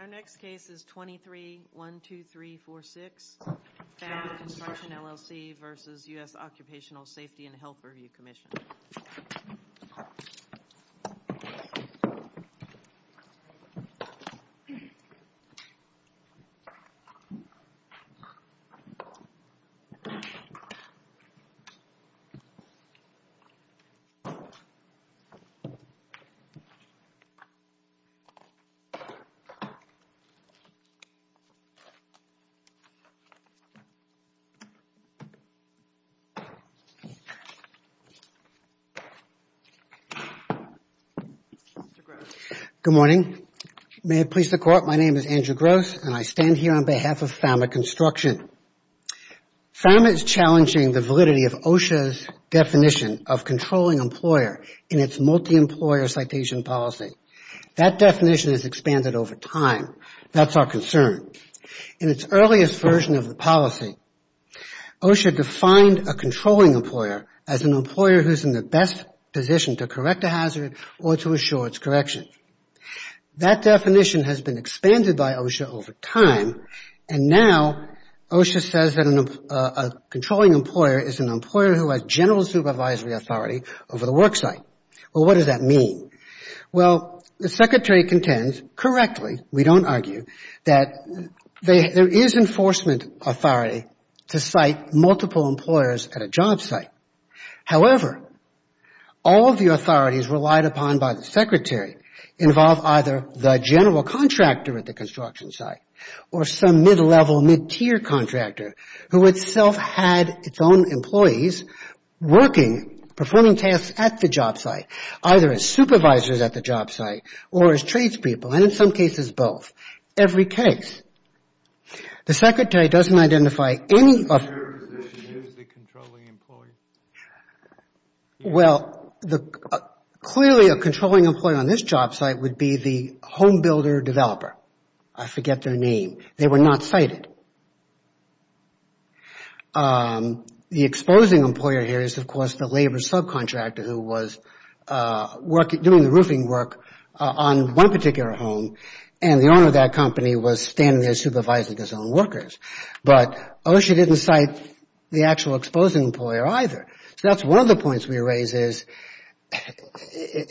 Our next case is 23-12346, FAMA Construction, LLC v. U.S. Occupational Safety and Health Review Commission Good morning. May it please the Court, my name is Andrew Gross and I stand here on behalf of FAMA Construction. FAMA is challenging the validity of OSHA's definition of controlling employer in its multi-employer citation policy. That definition has expanded over time. That's our concern. In its earliest version of the policy, OSHA defined a controlling employer as an employer who is in the best position to correct a hazard or to assure its correction. That definition has been expanded by OSHA over time and now OSHA says that a controlling employer is an employer who has general supervisory authority over the work site. Well, what does that mean? Well, the Secretary contends correctly, we don't argue, that there is enforcement authority to cite multiple employers at a job site. However, all of the authorities relied upon by the Secretary involve either the general contractor at the construction site or some mid-level, mid-tier contractor who itself had its own employees working, performing tasks at the job site, either as supervisors at the job site or as tradespeople and in some cases both, every case. The Secretary doesn't identify any of... Well, clearly a controlling employer on this job site would be the home builder developer. I forget their name. They were not cited. The exposing employer here is, of course, the labor subcontractor who was doing the roofing work on one particular home and the owner of that company was standing there supervising his own workers. But OSHA didn't cite the actual exposing employer either. So that's one of the points we raise is,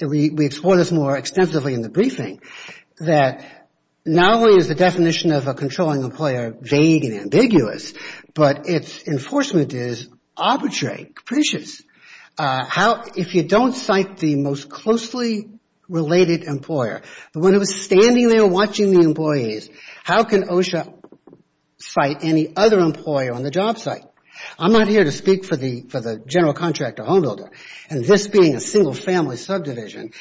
we explore this more extensively in the briefing, that not only is the definition of a controlling employer vague and ambiguous, but its enforcement is arbitrary, capricious. If you don't cite the most closely related employer, the one who was standing there watching the employees, how can OSHA cite any other employer on the job site? I'm not here to speak for the general contractor home builder and this being a single family subdivision,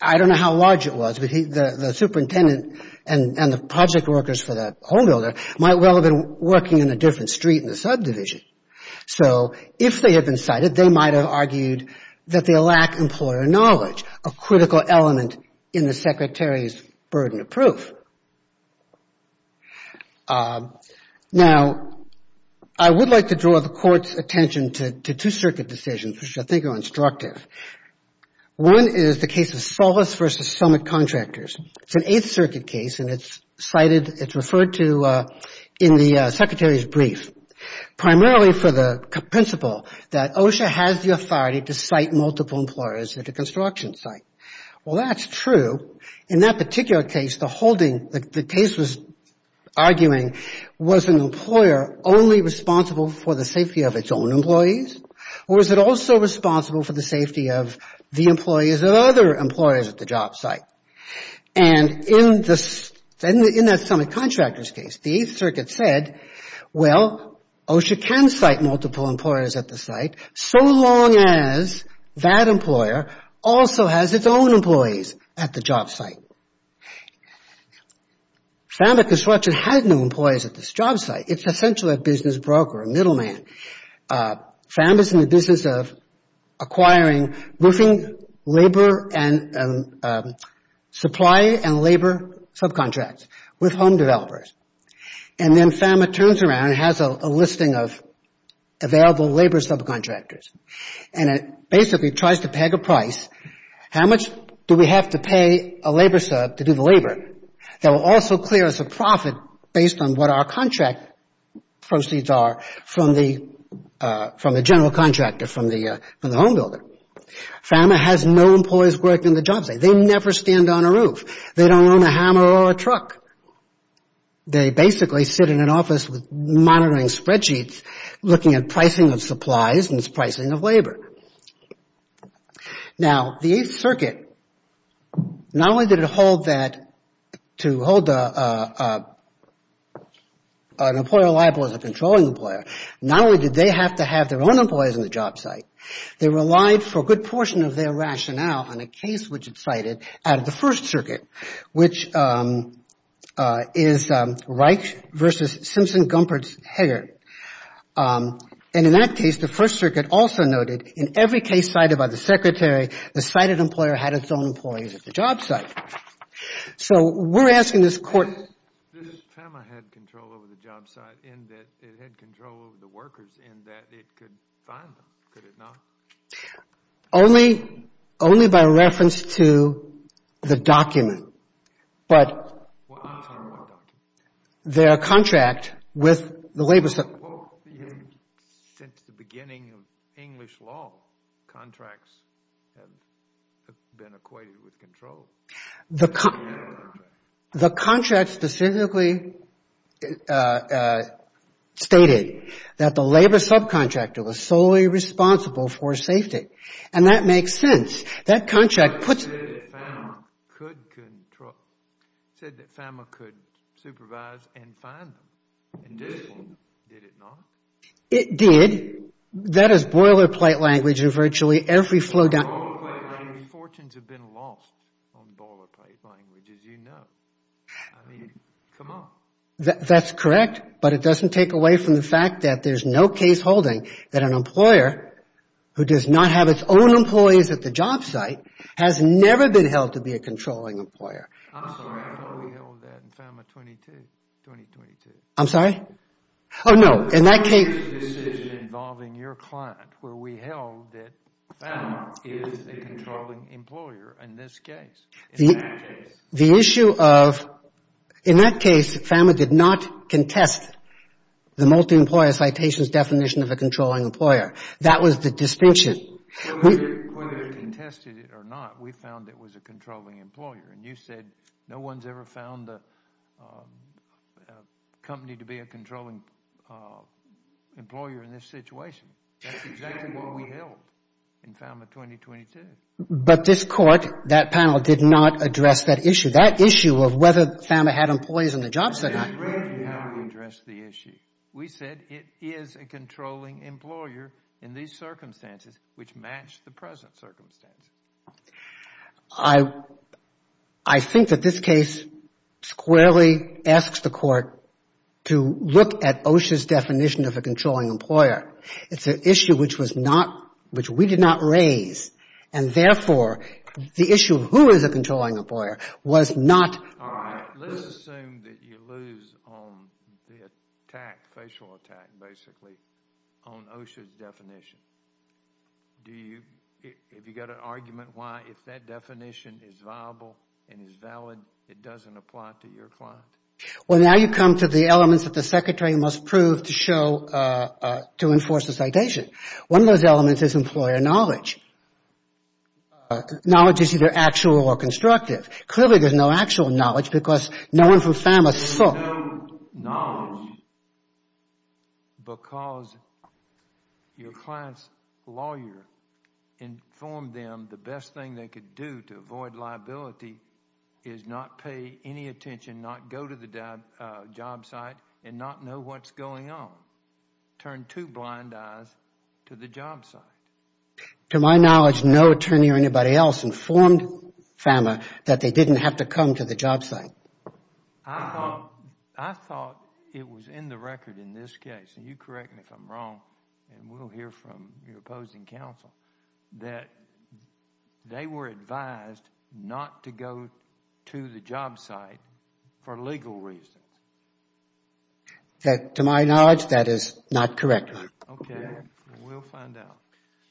I don't know how large it was, but the superintendent and the project workers for the home builder might well have been working in a different street in the subdivision. So if they had been cited, they might have argued that they lack employer knowledge, a critical element in the secretary's burden of proof. Now I would like to draw the court's attention to two circuit decisions, which I think are instructive. One is the case of Sulvis v. Summit Contractors. It's an 8th Circuit case and it's cited, it's referred to in the secretary's brief, primarily for the principle that OSHA has the authority to cite multiple employers at a construction site. Well, that's true. In that particular case, the case was arguing, was an employer only responsible for the safety of its own employees, or is it also responsible for the safety of the employees of other employers at the job site? And in that Summit Contractors case, the 8th Circuit said, well, OSHA can cite multiple employers at the site so long as that employer also has its own employees at the job site. FAMBA Construction had no employees at this job site. It's essentially a business broker, a middleman. FAMBA's in the business of acquiring roofing labor and supply and labor subcontracts with home developers. And then FAMBA turns around and has a listing of available labor subcontractors. And it basically tries to peg a price, how much do we have to pay a labor sub to do the labor? That will also clear us a profit based on what our contract proceeds are from the general contractor, from the home builder. FAMBA has no employees working in the job site. They never stand on a roof. They don't own a hammer or a truck. They basically sit in an office monitoring spreadsheets, looking at pricing of supplies and pricing of labor. Now the 8th Circuit, not only did it hold that, to hold an employer responsible for the job site, to hold an employer liable as a controlling employer, not only did they have to have their own employees in the job site, they relied for a good portion of their rationale on a case which it cited out of the 1st Circuit, which is Reich versus Simpson-Gumperts-Hegart. And in that case, the 1st Circuit also noted in every case cited by the Secretary, the cited employer had its own employees at the job site. So, we're asking this court... This FAMBA had control over the job site in that it had control over the workers in that it could fine them, could it not? Only by reference to the document, but... Well, I'm talking about the document. Their contract with the labor sub... Well, since the beginning of English law, contracts have been equated with control. The contract specifically stated that the labor subcontractor was solely responsible for safety, and that makes sense. That contract puts... It said that FAMBA could supervise and fine them. It did. Did it not? It did. That is boilerplate language in virtually every flow down... Fortunes have been lost on boilerplate language, as you know. I mean, come on. That's correct, but it doesn't take away from the fact that there's no case holding that an employer who does not have its own employees at the job site has never been held to be a controlling employer. I'm sorry. I thought we held that in FAMBA 22, 2022. I'm sorry? Oh, no. In that case... It was a decision involving your client where we held that FAMBA is the controlling employer in this case, in that case. The issue of... In that case, FAMBA did not contest the multi-employer citations definition of a controlling employer. That was the distinction. Whether it contested it or not, we found it was a controlling employer, and you said no one's ever found a company to be a controlling employer in this situation. That's exactly what we held in FAMBA 2022. But this court, that panel, did not address that issue. That issue of whether FAMBA had employees in the job site... That's exactly how we addressed the issue. We said it is a controlling employer in these circumstances, which matched the present circumstances. I think that this case squarely asks the court to look at OSHA's definition of a controlling employer. It's an issue which we did not raise, and therefore, the issue of who is a controlling employer was not... All right. Let's assume that you lose on the attack, facial attack, basically, on OSHA's definition. Do you... Have you got an argument why, if that definition is viable and is valid, it doesn't apply to your client? Well, now you come to the elements that the secretary must prove to show... to enforce the citation. One of those elements is employer knowledge. Knowledge is either actual or constructive. Clearly, there's no actual knowledge because no one from FAMBA saw... There's no knowledge because your client's lawyer informed them the best thing they could do to avoid liability is not pay any attention, not go to the job site, and not know what's going on. Turn two blind eyes to the job site. To my knowledge, no attorney or anybody else informed FAMBA that they didn't have to come to the job site. I thought it was in the record in this case, and you correct me if I'm wrong, and we'll hear from your opposing counsel, that they were advised not to go to the job site for legal reasons. To my knowledge, that is not correct. Okay, we'll find out.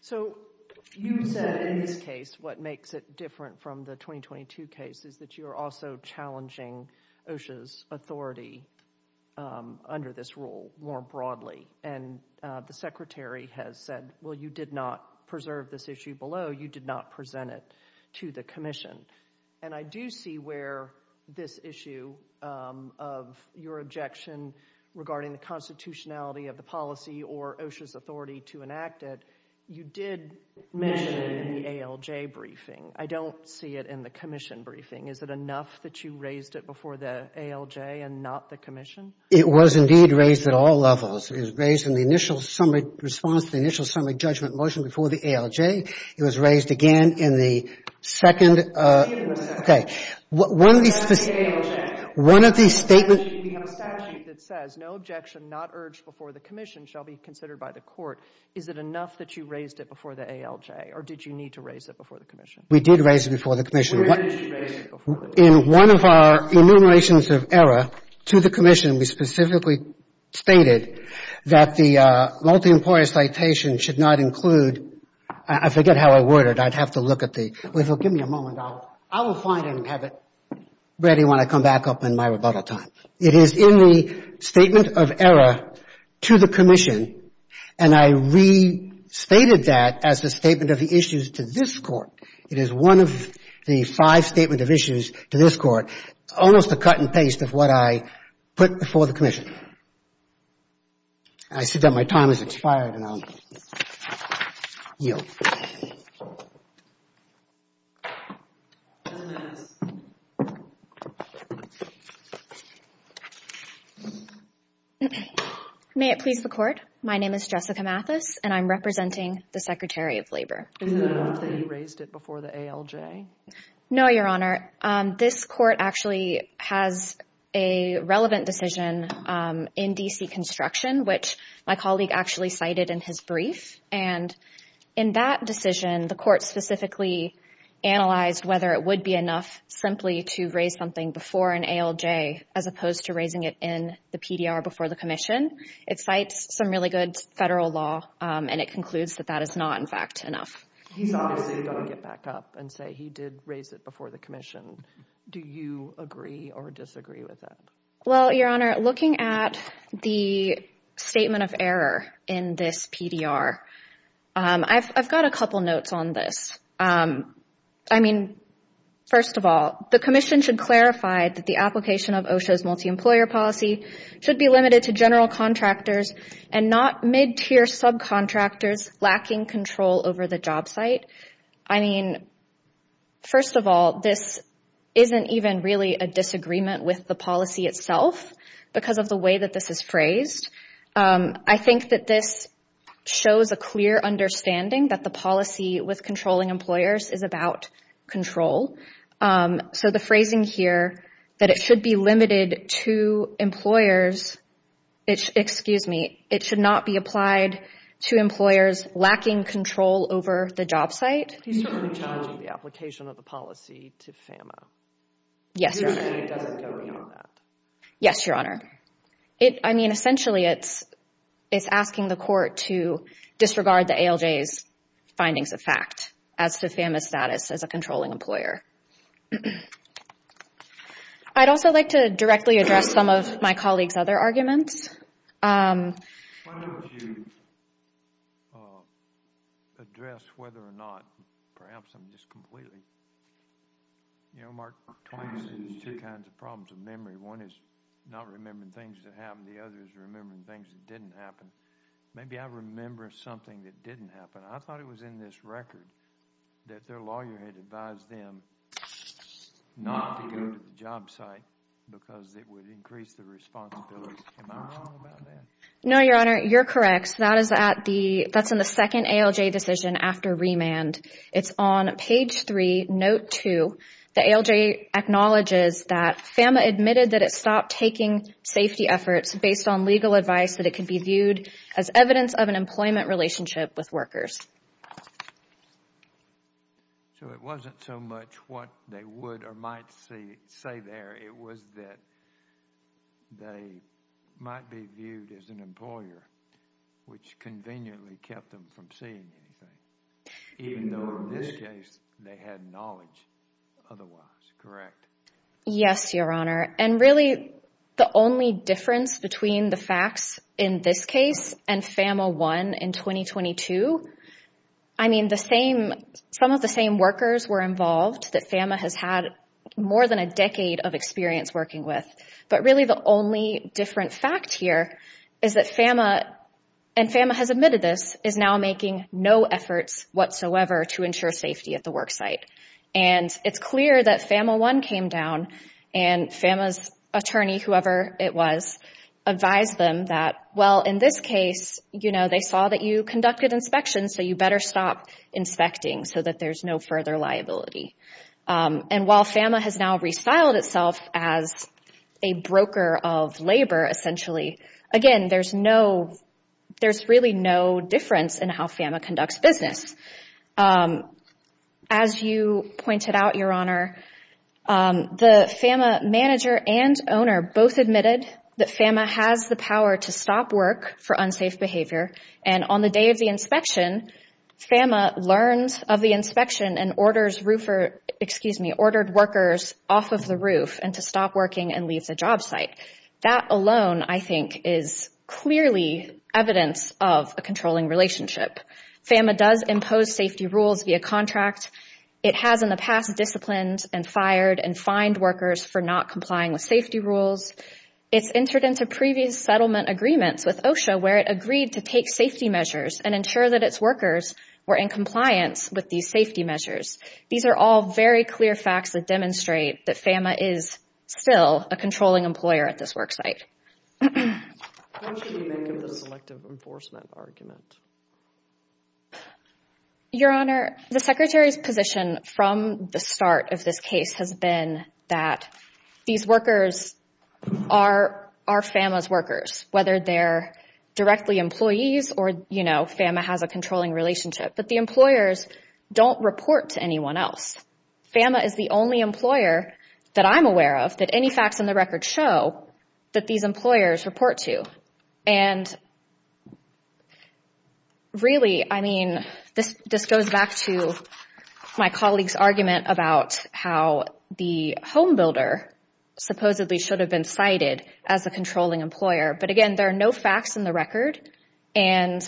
So, you said in this case, what makes it different from the 2022 case, is that you're also challenging OSHA's authority under this rule more broadly. And the secretary has said, well, you did not preserve this issue below. You did not present it to the commission. And I do see where this issue of your objection regarding the constitutionality of the policy or OSHA's authority to enact it, you did mention in the ALJ briefing. I don't see it in the commission briefing. Is it enough that you raised it before the ALJ and not the commission? It was indeed raised at all levels. It was raised in the initial summary response, the initial summary judgment motion before the ALJ. It was raised again in the second. We have a statute that says no objection not urged before the commission shall be considered by the court. Is it enough that you raised it before the ALJ? Or did you need to raise it before the commission? We did raise it before the commission. Where did you raise it before the commission? In one of our enumerations of error to the commission, we specifically stated that the multi-employer citation should not include — I forget how I worded. I'd have to look at the — Give me a moment. I will find it and have it ready when I come back up in my rebuttal time. It is in the statement of error to the commission, and I restated that as the statement of the issues to this court. It is one of the five statement of issues to this court, almost a cut and paste of what I put before the commission. I see that my time has expired, and I'll yield. May it please the Court. My name is Jessica Mathis, and I'm representing the Secretary of Labor. Is it enough that you raised it before the ALJ? No, Your Honor. This court actually has a relevant decision in D.C. construction, which my colleague actually cited in his brief. And in that decision, the court specifically analyzed whether it would be enough simply to raise something before an ALJ as opposed to raising it in the PDR before the commission. It cites some really good federal law, and it concludes that that is not, in fact, enough. He's obviously going to get back up and say he did raise it before the commission. Do you agree or disagree with that? Well, Your Honor, looking at the statement of error in this PDR, I've got a couple notes on this. I mean, first of all, the commission should clarify that the application of OSHA's multi-employer policy should be limited to general contractors and not mid-tier subcontractors lacking control over the job site. I mean, first of all, this isn't even really a disagreement with the policy itself because of the way that this is phrased. I think that this shows a clear understanding that the policy with controlling employers is about control. So the phrasing here that it should be limited to employers, excuse me, it should not be applied to employers lacking control over the job site. He's certainly challenging the application of the policy to FAMMA. Yes, Your Honor. You're saying it doesn't go beyond that? Yes, Your Honor. I mean, essentially, it's asking the court to disregard the ALJ's findings of fact as to FAMMA's status as a controlling employer. I'd also like to directly address some of my colleague's other arguments. Why don't you address whether or not perhaps I'm just completely, you know, Mark, twice in these two kinds of problems of memory. One is not remembering things that happened. The other is remembering things that didn't happen. Maybe I remember something that didn't happen. I thought it was in this record that their lawyer had advised them not to go to the job site because it would increase the responsibility. Am I wrong about that? No, Your Honor. You're correct. That's in the second ALJ decision after remand. It's on page 3, note 2. The ALJ acknowledges that FAMMA admitted that it stopped taking safety efforts based on legal advice that it could be viewed as evidence of an employment relationship with workers. So it wasn't so much what they would or might say there. It was that they might be viewed as an employer, which conveniently kept them from seeing anything, even though in this case they had knowledge otherwise. Correct? Yes, Your Honor. And really the only difference between the facts in this case and FAMMA 1 in 2022, I mean the same, some of the same workers were involved that FAMMA has had more than a decade of experience working with. But really the only different fact here is that FAMMA, and FAMMA has admitted this, is now making no efforts whatsoever to ensure safety at the work site. And it's clear that FAMMA 1 came down and FAMMA's attorney, whoever it was, advised them that, well, in this case, you know, they saw that you conducted inspections, so you better stop inspecting so that there's no further liability. And while FAMMA has now restyled itself as a broker of labor, essentially, again, there's no, there's really no difference in how FAMMA conducts business. As you pointed out, Your Honor, the FAMMA manager and owner both admitted that FAMMA has the power to stop work for unsafe behavior. And on the day of the inspection, FAMMA learns of the inspection and orders roofer, excuse me, ordered workers off of the roof and to stop working and leave the job site. That alone, I think, is clearly evidence of a controlling relationship. FAMMA does impose safety rules via contract. It has in the past disciplined and fired and fined workers for not complying with safety rules. It's entered into previous settlement agreements with OSHA where it agreed to take safety measures and ensure that its workers were in compliance with these safety measures. These are all very clear facts that demonstrate that FAMMA is still a controlling employer at this work site. What should we make of the selective enforcement argument? Your Honor, the Secretary's position from the start of this case has been that these workers are FAMMA's workers, whether they're directly employees or, you know, FAMMA has a controlling relationship, but the employers don't report to anyone else. FAMMA is the only employer that I'm aware of that any facts in the record show that these employers report to. And really, I mean, this goes back to my colleague's argument about how the homebuilder supposedly should have been cited as a controlling employer. But again, there are no facts in the record. And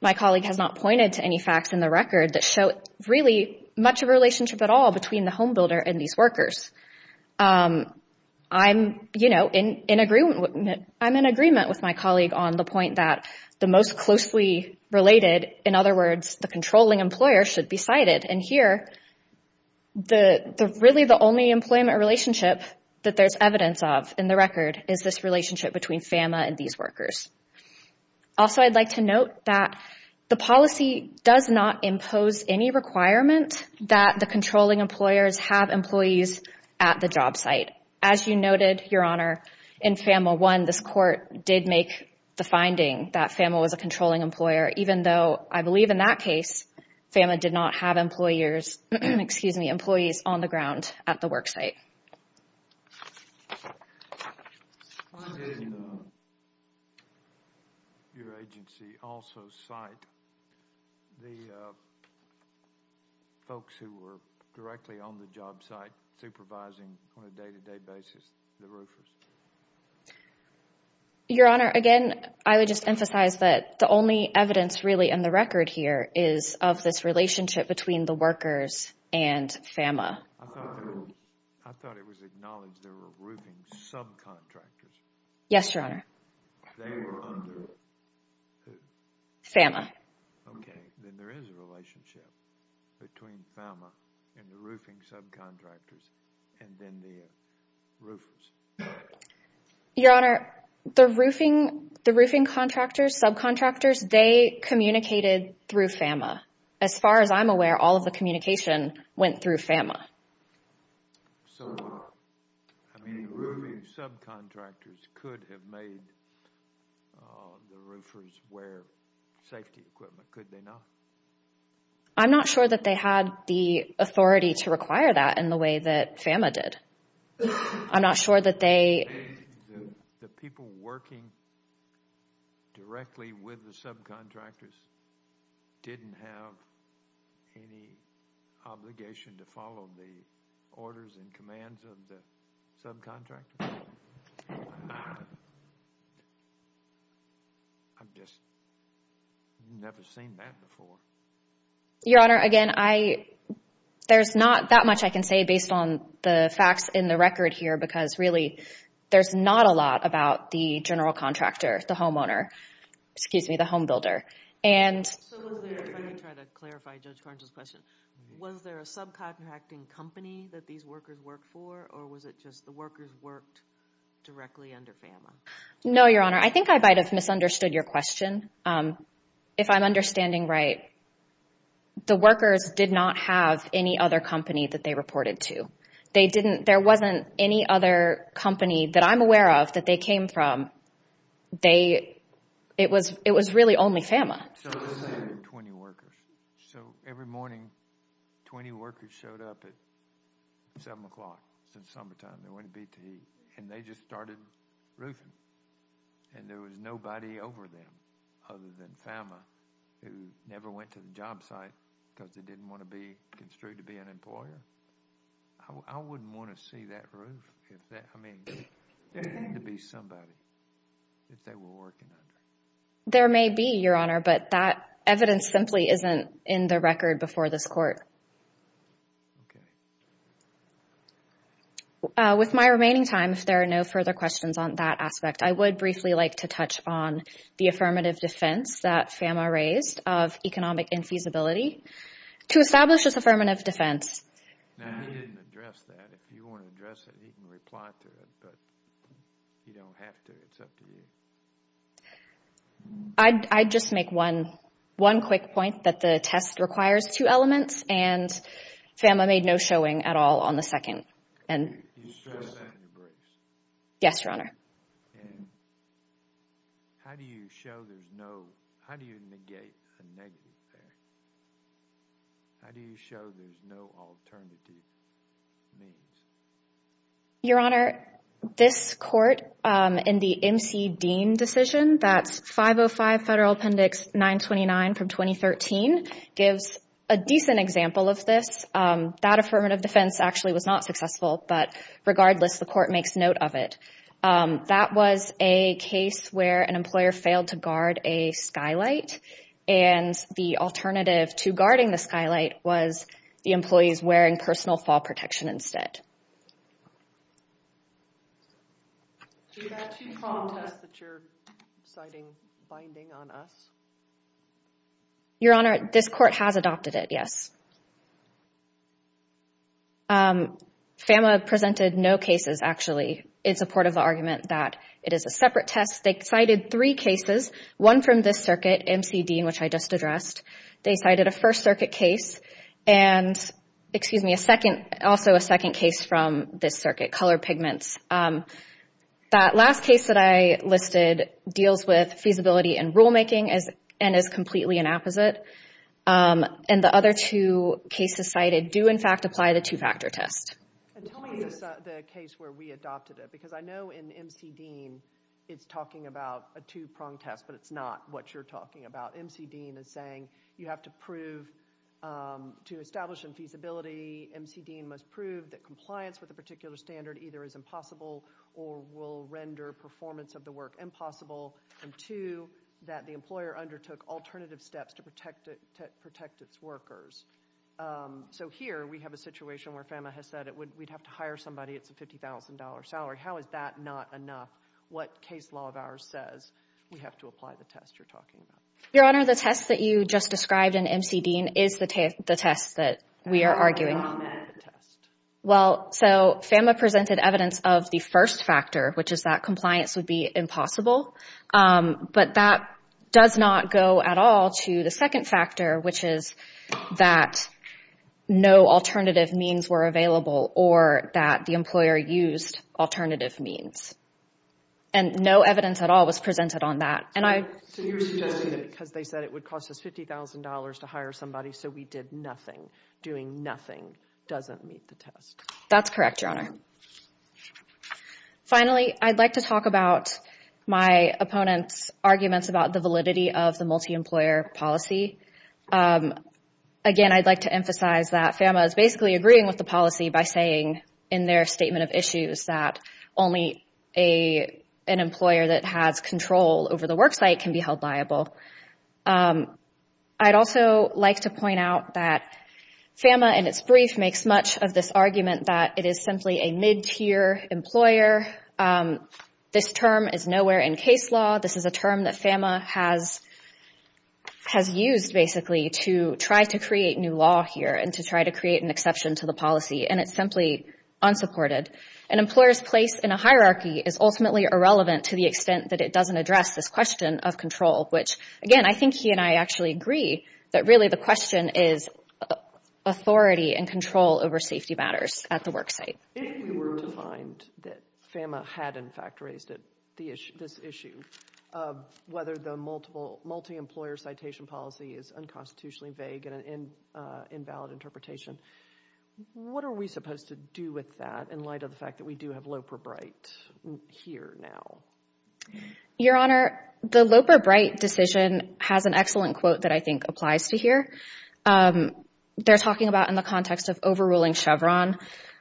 my colleague has not pointed to any facts in the record that show really much of a relationship at all between the homebuilder and these workers. I'm, you know, in agreement, I'm in agreement with my colleague on the point that the most closely related, in other words, the controlling employer should be cited. And here, the really the only employment relationship that there's evidence of in the record is this relationship between FAMMA and these workers. Also, I'd like to note that the policy does not impose any requirement that the employer be cited at the job site. As you noted, Your Honor, in FAMMA 1, this court did make the finding that FAMMA was a controlling employer, even though I believe in that case, FAMMA did not have employers, excuse me, employees on the ground at the work site. Did your agency also cite the folks who were directly on the job site, supervising on a day-to-day basis the roofers? Your Honor, again, I would just emphasize that the only evidence really in the record here is of this relationship between the workers and FAMMA. I thought it was acknowledged there were roofing subcontractors. Yes, Your Honor. They were under who? FAMMA. Okay, then there is a relationship between FAMMA and the roofing subcontractors and then the roofers. Your Honor, the roofing contractors, subcontractors, they communicated through FAMMA. As far as I'm aware, all of the communication went through FAMMA. I mean, roofing subcontractors could have made the roofers wear safety equipment. Could they not? I'm not sure that they had the authority to require that in the way that FAMMA did. I'm not sure that they... The people working directly with the subcontractors didn't have any obligation to follow the orders and commands of the subcontractors? Ah. I've just never seen that before. Your Honor, again, there's not that much I can say based on the facts in the record here because really there's not a lot about the general contractor, the homeowner, excuse me, the homebuilder. Let me try to clarify Judge Carnes' question. Was there a subcontracting company that these workers worked for or was it just the workers worked directly under FAMMA? No, Your Honor. I think I might have misunderstood your question. If I'm understanding right, the workers did not have any other company that they reported to. They didn't... There wasn't any other company that I'm aware of that they came from. They... It was really only FAMMA. So it was 20 workers. So every morning, 20 workers showed up at 7 o'clock in the summertime. They went to B-T-E and they just started roofing. And there was nobody over them other than FAMMA who never went to the job site because they didn't want to be construed to be an employer. I wouldn't want to see that roof. If that... I mean, there had to be somebody that they were working under. There may be, Your Honor, but that evidence simply isn't in the record before this court. Okay. With my remaining time, if there are no further questions on that aspect, I would briefly like to touch on the affirmative defense that FAMMA raised of economic infeasibility. To establish this affirmative defense... Now, he didn't address that. If you want to address it, he can reply to it, but you don't have to. It's up to you. I'd just make one quick point that the test requires two elements and FAMMA made no showing at all on the second. Yes, Your Honor. Your Honor, this court in the MC Dean decision, that's 505 Federal Appendix 929 from 2013, gives a decent example of this. That affirmative defense actually was not successful, but regardless, the court makes note of it. That was a case where an employer failed to guard a skylight and the alternative to guarding the skylight was the employees wearing personal fall protection instead. Do you have two common tests that you're citing binding on us? Your Honor, this court has adopted it, yes. FAMMA presented no cases, actually. It's a port of argument that it is a separate test. They cited three cases, one from this circuit, MC Dean, which I just addressed. They cited a First Circuit case and also a second case from this circuit, color pigments. That last case that I listed deals with feasibility and rulemaking and is completely an opposite. And the other two cases cited do, in fact, apply the two-factor test. Tell me the case where we adopted it because I know in MC Dean, it's talking about a two-prong test, but it's not what you're talking about. MC Dean is saying you have to prove, to establish infeasibility, MC Dean must prove that compliance with a particular standard either is impossible or will render performance of the work impossible, and two, that the employer undertook alternative steps to protect its workers. So here, we have a situation where FAMMA has said we'd have to hire somebody, it's a $50,000 salary. How is that not enough? What case law of ours says we have to apply the test you're talking about? Your Honor, the test that you just described in MC Dean is the test that we are arguing. Well, so FAMMA presented evidence of the first factor, which is that compliance would be impossible, but that does not go at all to the second factor, which is that no alternative means were available or that the employer used alternative means. And no evidence at all was presented on that. So you're suggesting that because they said it costs us $50,000 to hire somebody, so we did nothing, doing nothing doesn't meet the test. That's correct, Your Honor. Finally, I'd like to talk about my opponent's arguments about the validity of the multi-employer policy. Again, I'd like to emphasize that FAMMA is basically agreeing with the policy by saying in their statement of issues that only an employer that has control over the worksite can be held liable. I'd also like to point out that FAMMA in its brief makes much of this argument that it is simply a mid-tier employer. This term is nowhere in case law. This is a term that FAMMA has used, basically, to try to create new law here and to try to create an exception to the policy, and it's simply unsupported. An employer's place in a hierarchy is ultimately irrelevant to the extent that it doesn't address this question of control, which, again, I think he and I actually agree that really the question is authority and control over safety matters at the worksite. If we were to find that FAMMA had, in fact, raised this issue of whether the multi-employer citation policy is unconstitutionally vague and an invalid interpretation, what are we supposed to do with that in light of the fact that we do have Loper-Bright here now? Your Honor, the Loper-Bright decision has an excellent quote that I think applies to here. They're talking about in the context of overruling Chevron.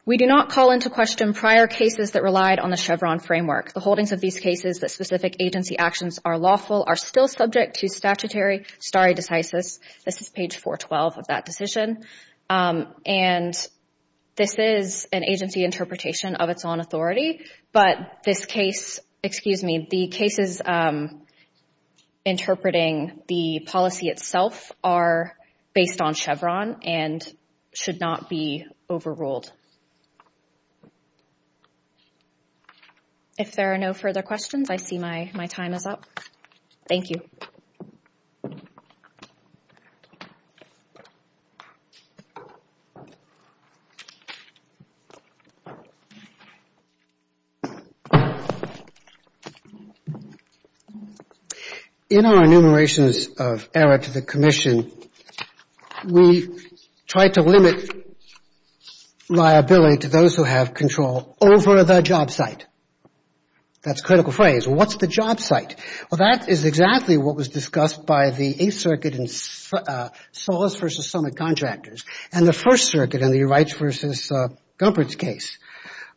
We do not call into question prior cases that relied on the Chevron framework. The holdings of these cases that specific agency actions are lawful are still subject to statutory stare decisis. This is page 412 of that decision, and this is an agency interpretation of its own authority, but this case, excuse me, the cases interpreting the policy itself are based on Chevron and should not be overruled. If there are no further questions, I see my time is up. Thank you. In our enumerations of error to the commission, we try to limit liability to those who have control over the job site. That's a critical phrase. What's the job site? Well, that is exactly what was discussed by the Eighth Circuit in Solis v. Summit Contractors and the First Circuit in the Wrights v. Gumpert's case.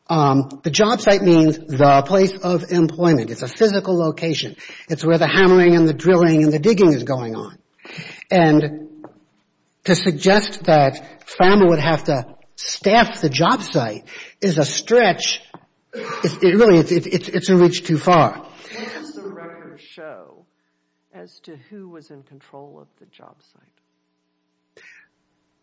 The job site means the place of employment. It's a physical location. It's where the hammering and the drilling and the digging is going on, and to suggest that FAMA would have to staff the job site is a stretch. Really, it's a reach too far. What does the record show as to who was in control of the job site?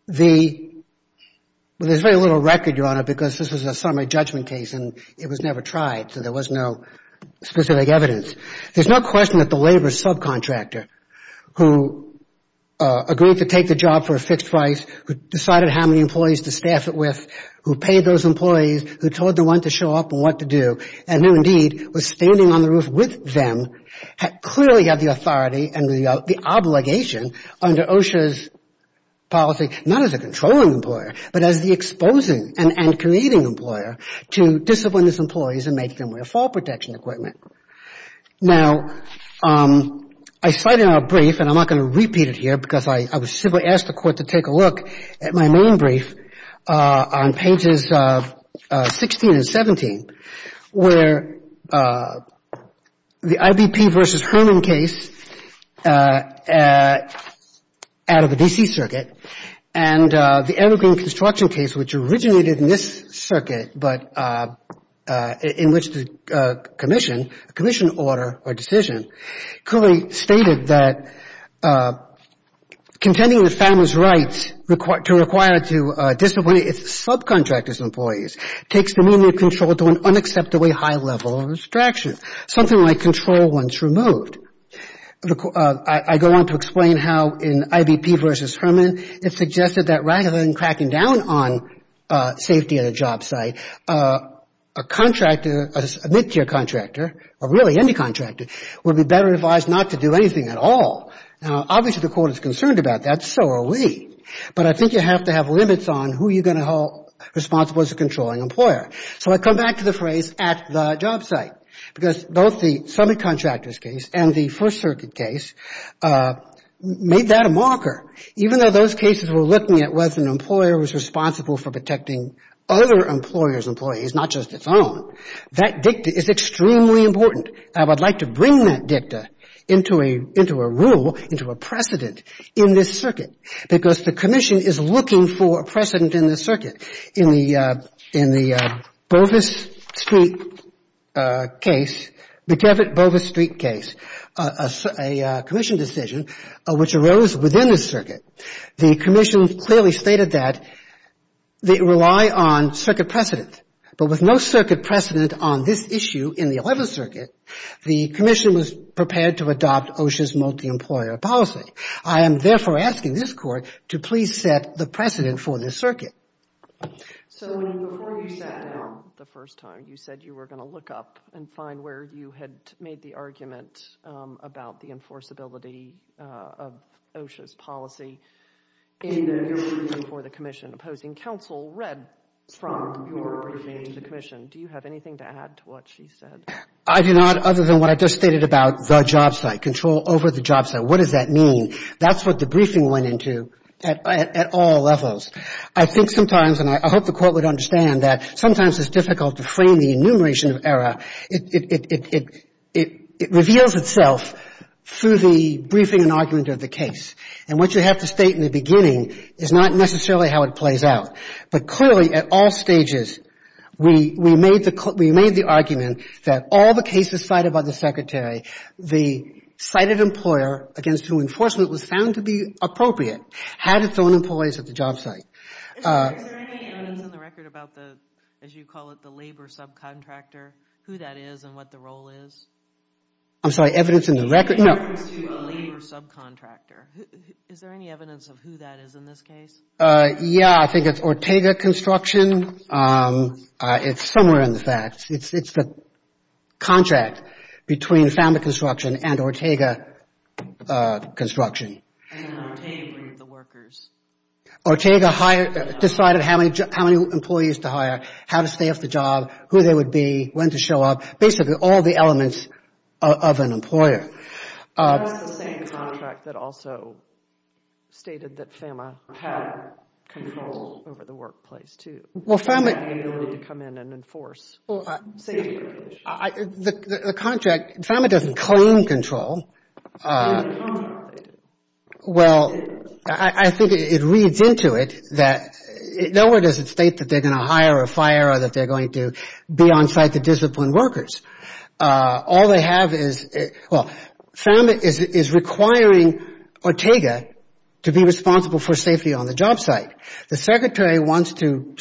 There's very little record, Your Honor, because this was a summary judgment case, and it was never tried, so there was no specific evidence. There's no question that the labor subcontractor who agreed to take the job for a fixed price, who decided how many employees to staff it with, who paid those employees, who told the one to show up and what to do, and who, indeed, was standing on the roof with them, clearly had the authority and the obligation under OSHA's policy, not as a controlling employer, but as the exposing and creating employer to discipline its employees and make them wear fall protection equipment. Now, I cite in our brief, and I'm not going to repeat it here because I was simply asked the Court to take a look at my main brief on pages 16 and 17, where the IBP v. Herman case out of the D.C. Circuit and the Evergreen Construction case, which originated in this circuit, but in which the commission, a commission order or decision, clearly stated that contending with families' rights to require to discipline its subcontractors' employees takes the meaning of control to an unacceptably high level of abstraction, something like control once removed. I go on to explain how in IBP v. Herman, it suggested that rather than cracking down on safety at a job site, a contractor, a mid-tier contractor, or really any contractor, would be better advised not to do anything at all. Now, obviously the Court is concerned about that. So are we. But I think you have to have limits on who you're going to hold responsible as a controlling employer. So I come back to the phrase at the job site because both the Summit Contractors case and the First Circuit case made that a marker, even though those cases were looking at whether an employer was responsible for protecting other employers' employees, not just its own, that dicta is extremely important. I would like to bring that dicta into a rule, into a precedent in this circuit because the commission is looking for a precedent in this circuit. In the Bovis Street case, the Devitt-Bovis Street case, a commission decision which arose within this circuit, the commission clearly stated that they rely on circuit precedent. But with no circuit precedent on this issue in the Eleventh Circuit, the commission was prepared to adopt OSHA's multi-employer policy. I am therefore asking this Court to please set the precedent for this circuit. So before you sat down the first time, you said you were going to look up and find where you had made the argument about the enforceability of OSHA's policy in the briefing for the commission. Opposing counsel read from your briefing to the commission. Do you have anything to add to what she said? I do not, other than what I just stated about the job site, control over the job site. What does that mean? That's what the briefing went into at all levels. I think sometimes, and I hope the Court would understand, that sometimes it's difficult to frame the enumeration of error. It reveals itself through the briefing and argument of the case. And what you have to state in the beginning is not necessarily how it plays out. But clearly, at all stages, we made the argument that all the cases cited by the Secretary, the cited employer, against whom enforcement was found to be appropriate, had its own employees at the job site. Is there any evidence in the record about the, as you call it, the labor subcontractor, who that is and what the role is? I'm sorry, evidence in the record? Evidence to a labor subcontractor. Is there any evidence of who that is in this case? Yeah, I think it's Ortega Construction. It's somewhere in the facts. It's the contract between Family Construction and Ortega Construction. And Ortega hired the workers. Ortega decided how many employees to hire, how to staff the job, who they would be, when to show up, basically all the elements of an employer. That's the same contract that also stated that FAMA had control over the workplace, too. Well, FAMA... The ability to come in and enforce safety regulations. The contract, FAMA doesn't claim control. They do. Well, I think it reads into it that nowhere does it state that they're going to hire or fire or that they're going to be on site to discipline workers. All they have is... Well, FAMA is requiring Ortega to be responsible for safety on the job site. The secretary wants to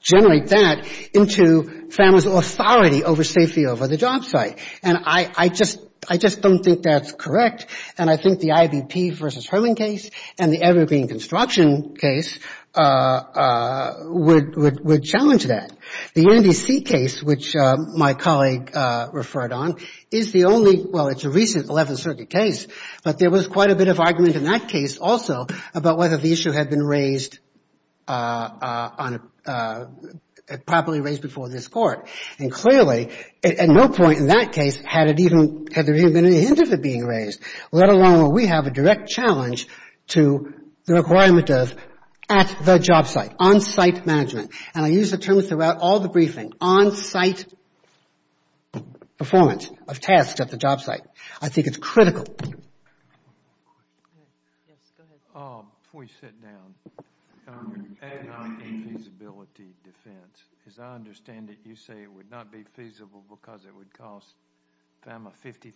generate that into FAMA's authority over safety over the job site. And I just don't think that's correct. And I think the IVP versus Herman case and the Evergreen construction case would challenge that. The NDC case, which my colleague referred on, is the only... Well, it's a recent 11th Circuit case, but there was quite a bit of argument in that case also about whether the issue had been raised... properly raised before this court. And clearly, at no point in that case had there even been any hint of it being raised, let alone where we have a direct challenge to the requirement of at the job site, on-site management. And I use the term throughout all the briefing, on-site performance of tasks at the job site. I think it's critical. Yes, go ahead. Before you sit down, and I'm not in feasibility defense, because I understand that you say it would not be feasible because it would cost FEMA $50,000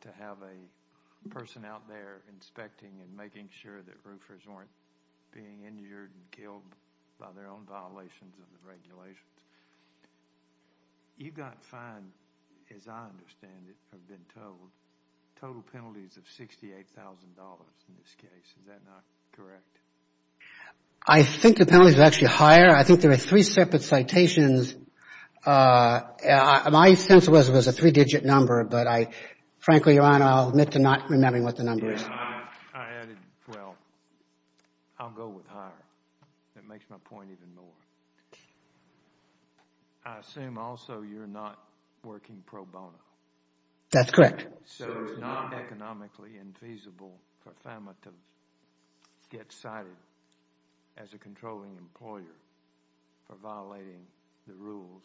to have a person out there inspecting and making sure that roofers weren't being injured and killed by their own violations of the regulations. You got fined, as I understand it, have been told, total penalties of $68,000 in this case. Is that not correct? I think the penalties are actually higher. I think there are three separate citations. My sense was it was a three-digit number, but I frankly, Your Honor, I'll admit to not remembering what the number is. I added, well, I'll go with higher. It makes my point even more. I assume also you're not working pro bono. That's correct. So it's not economically infeasible for FEMA to get cited as a controlling employer for violating the rules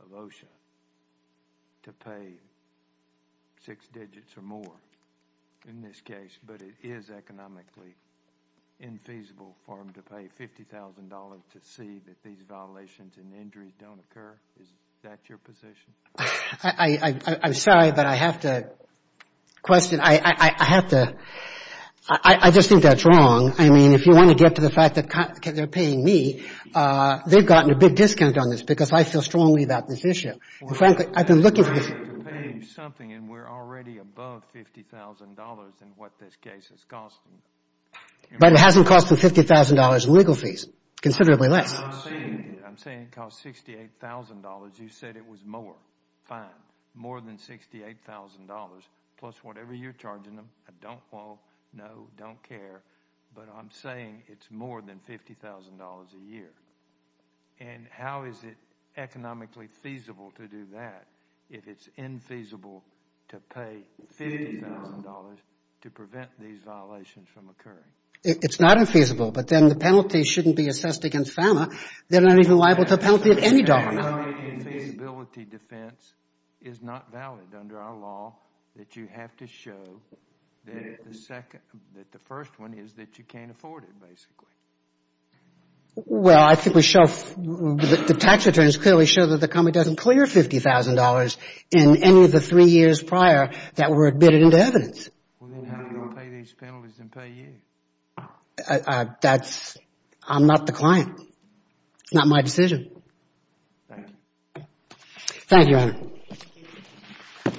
of OSHA to pay six digits or more in this case, but it is economically infeasible for them to pay $50,000 to see that these violations and injuries don't occur? Is that your position? I'm sorry, but I have to question. I have to. I just think that's wrong. I mean, if you want to get to the fact that they're paying me, they've gotten a big discount on this because I feel strongly about this issue. Frankly, I've been looking for this issue. We're already above $50,000 in what this case is costing. But it hasn't cost them $50,000 in legal fees, considerably less. I'm saying it cost $68,000. You said it was more. Fine. More than $68,000 plus whatever you're charging them. I don't know, don't care, but I'm saying it's more than $50,000 a year. And how is it economically feasible to do that if it's infeasible to pay $50,000 to prevent these violations from occurring? It's not infeasible, but then the penalty shouldn't be assessed against FEMA. They're not even liable to a penalty of any dollar amount. The penalty in feasibility defense is not valid under our law that you have to show that the first one is that you can't afford it, basically. Well, I think the tax returns clearly show that the company doesn't clear $50,000 in any of the three years prior that were admitted into evidence. Then how are you going to pay these penalties and pay you? That's... I'm not the client. It's not my decision. Thank you.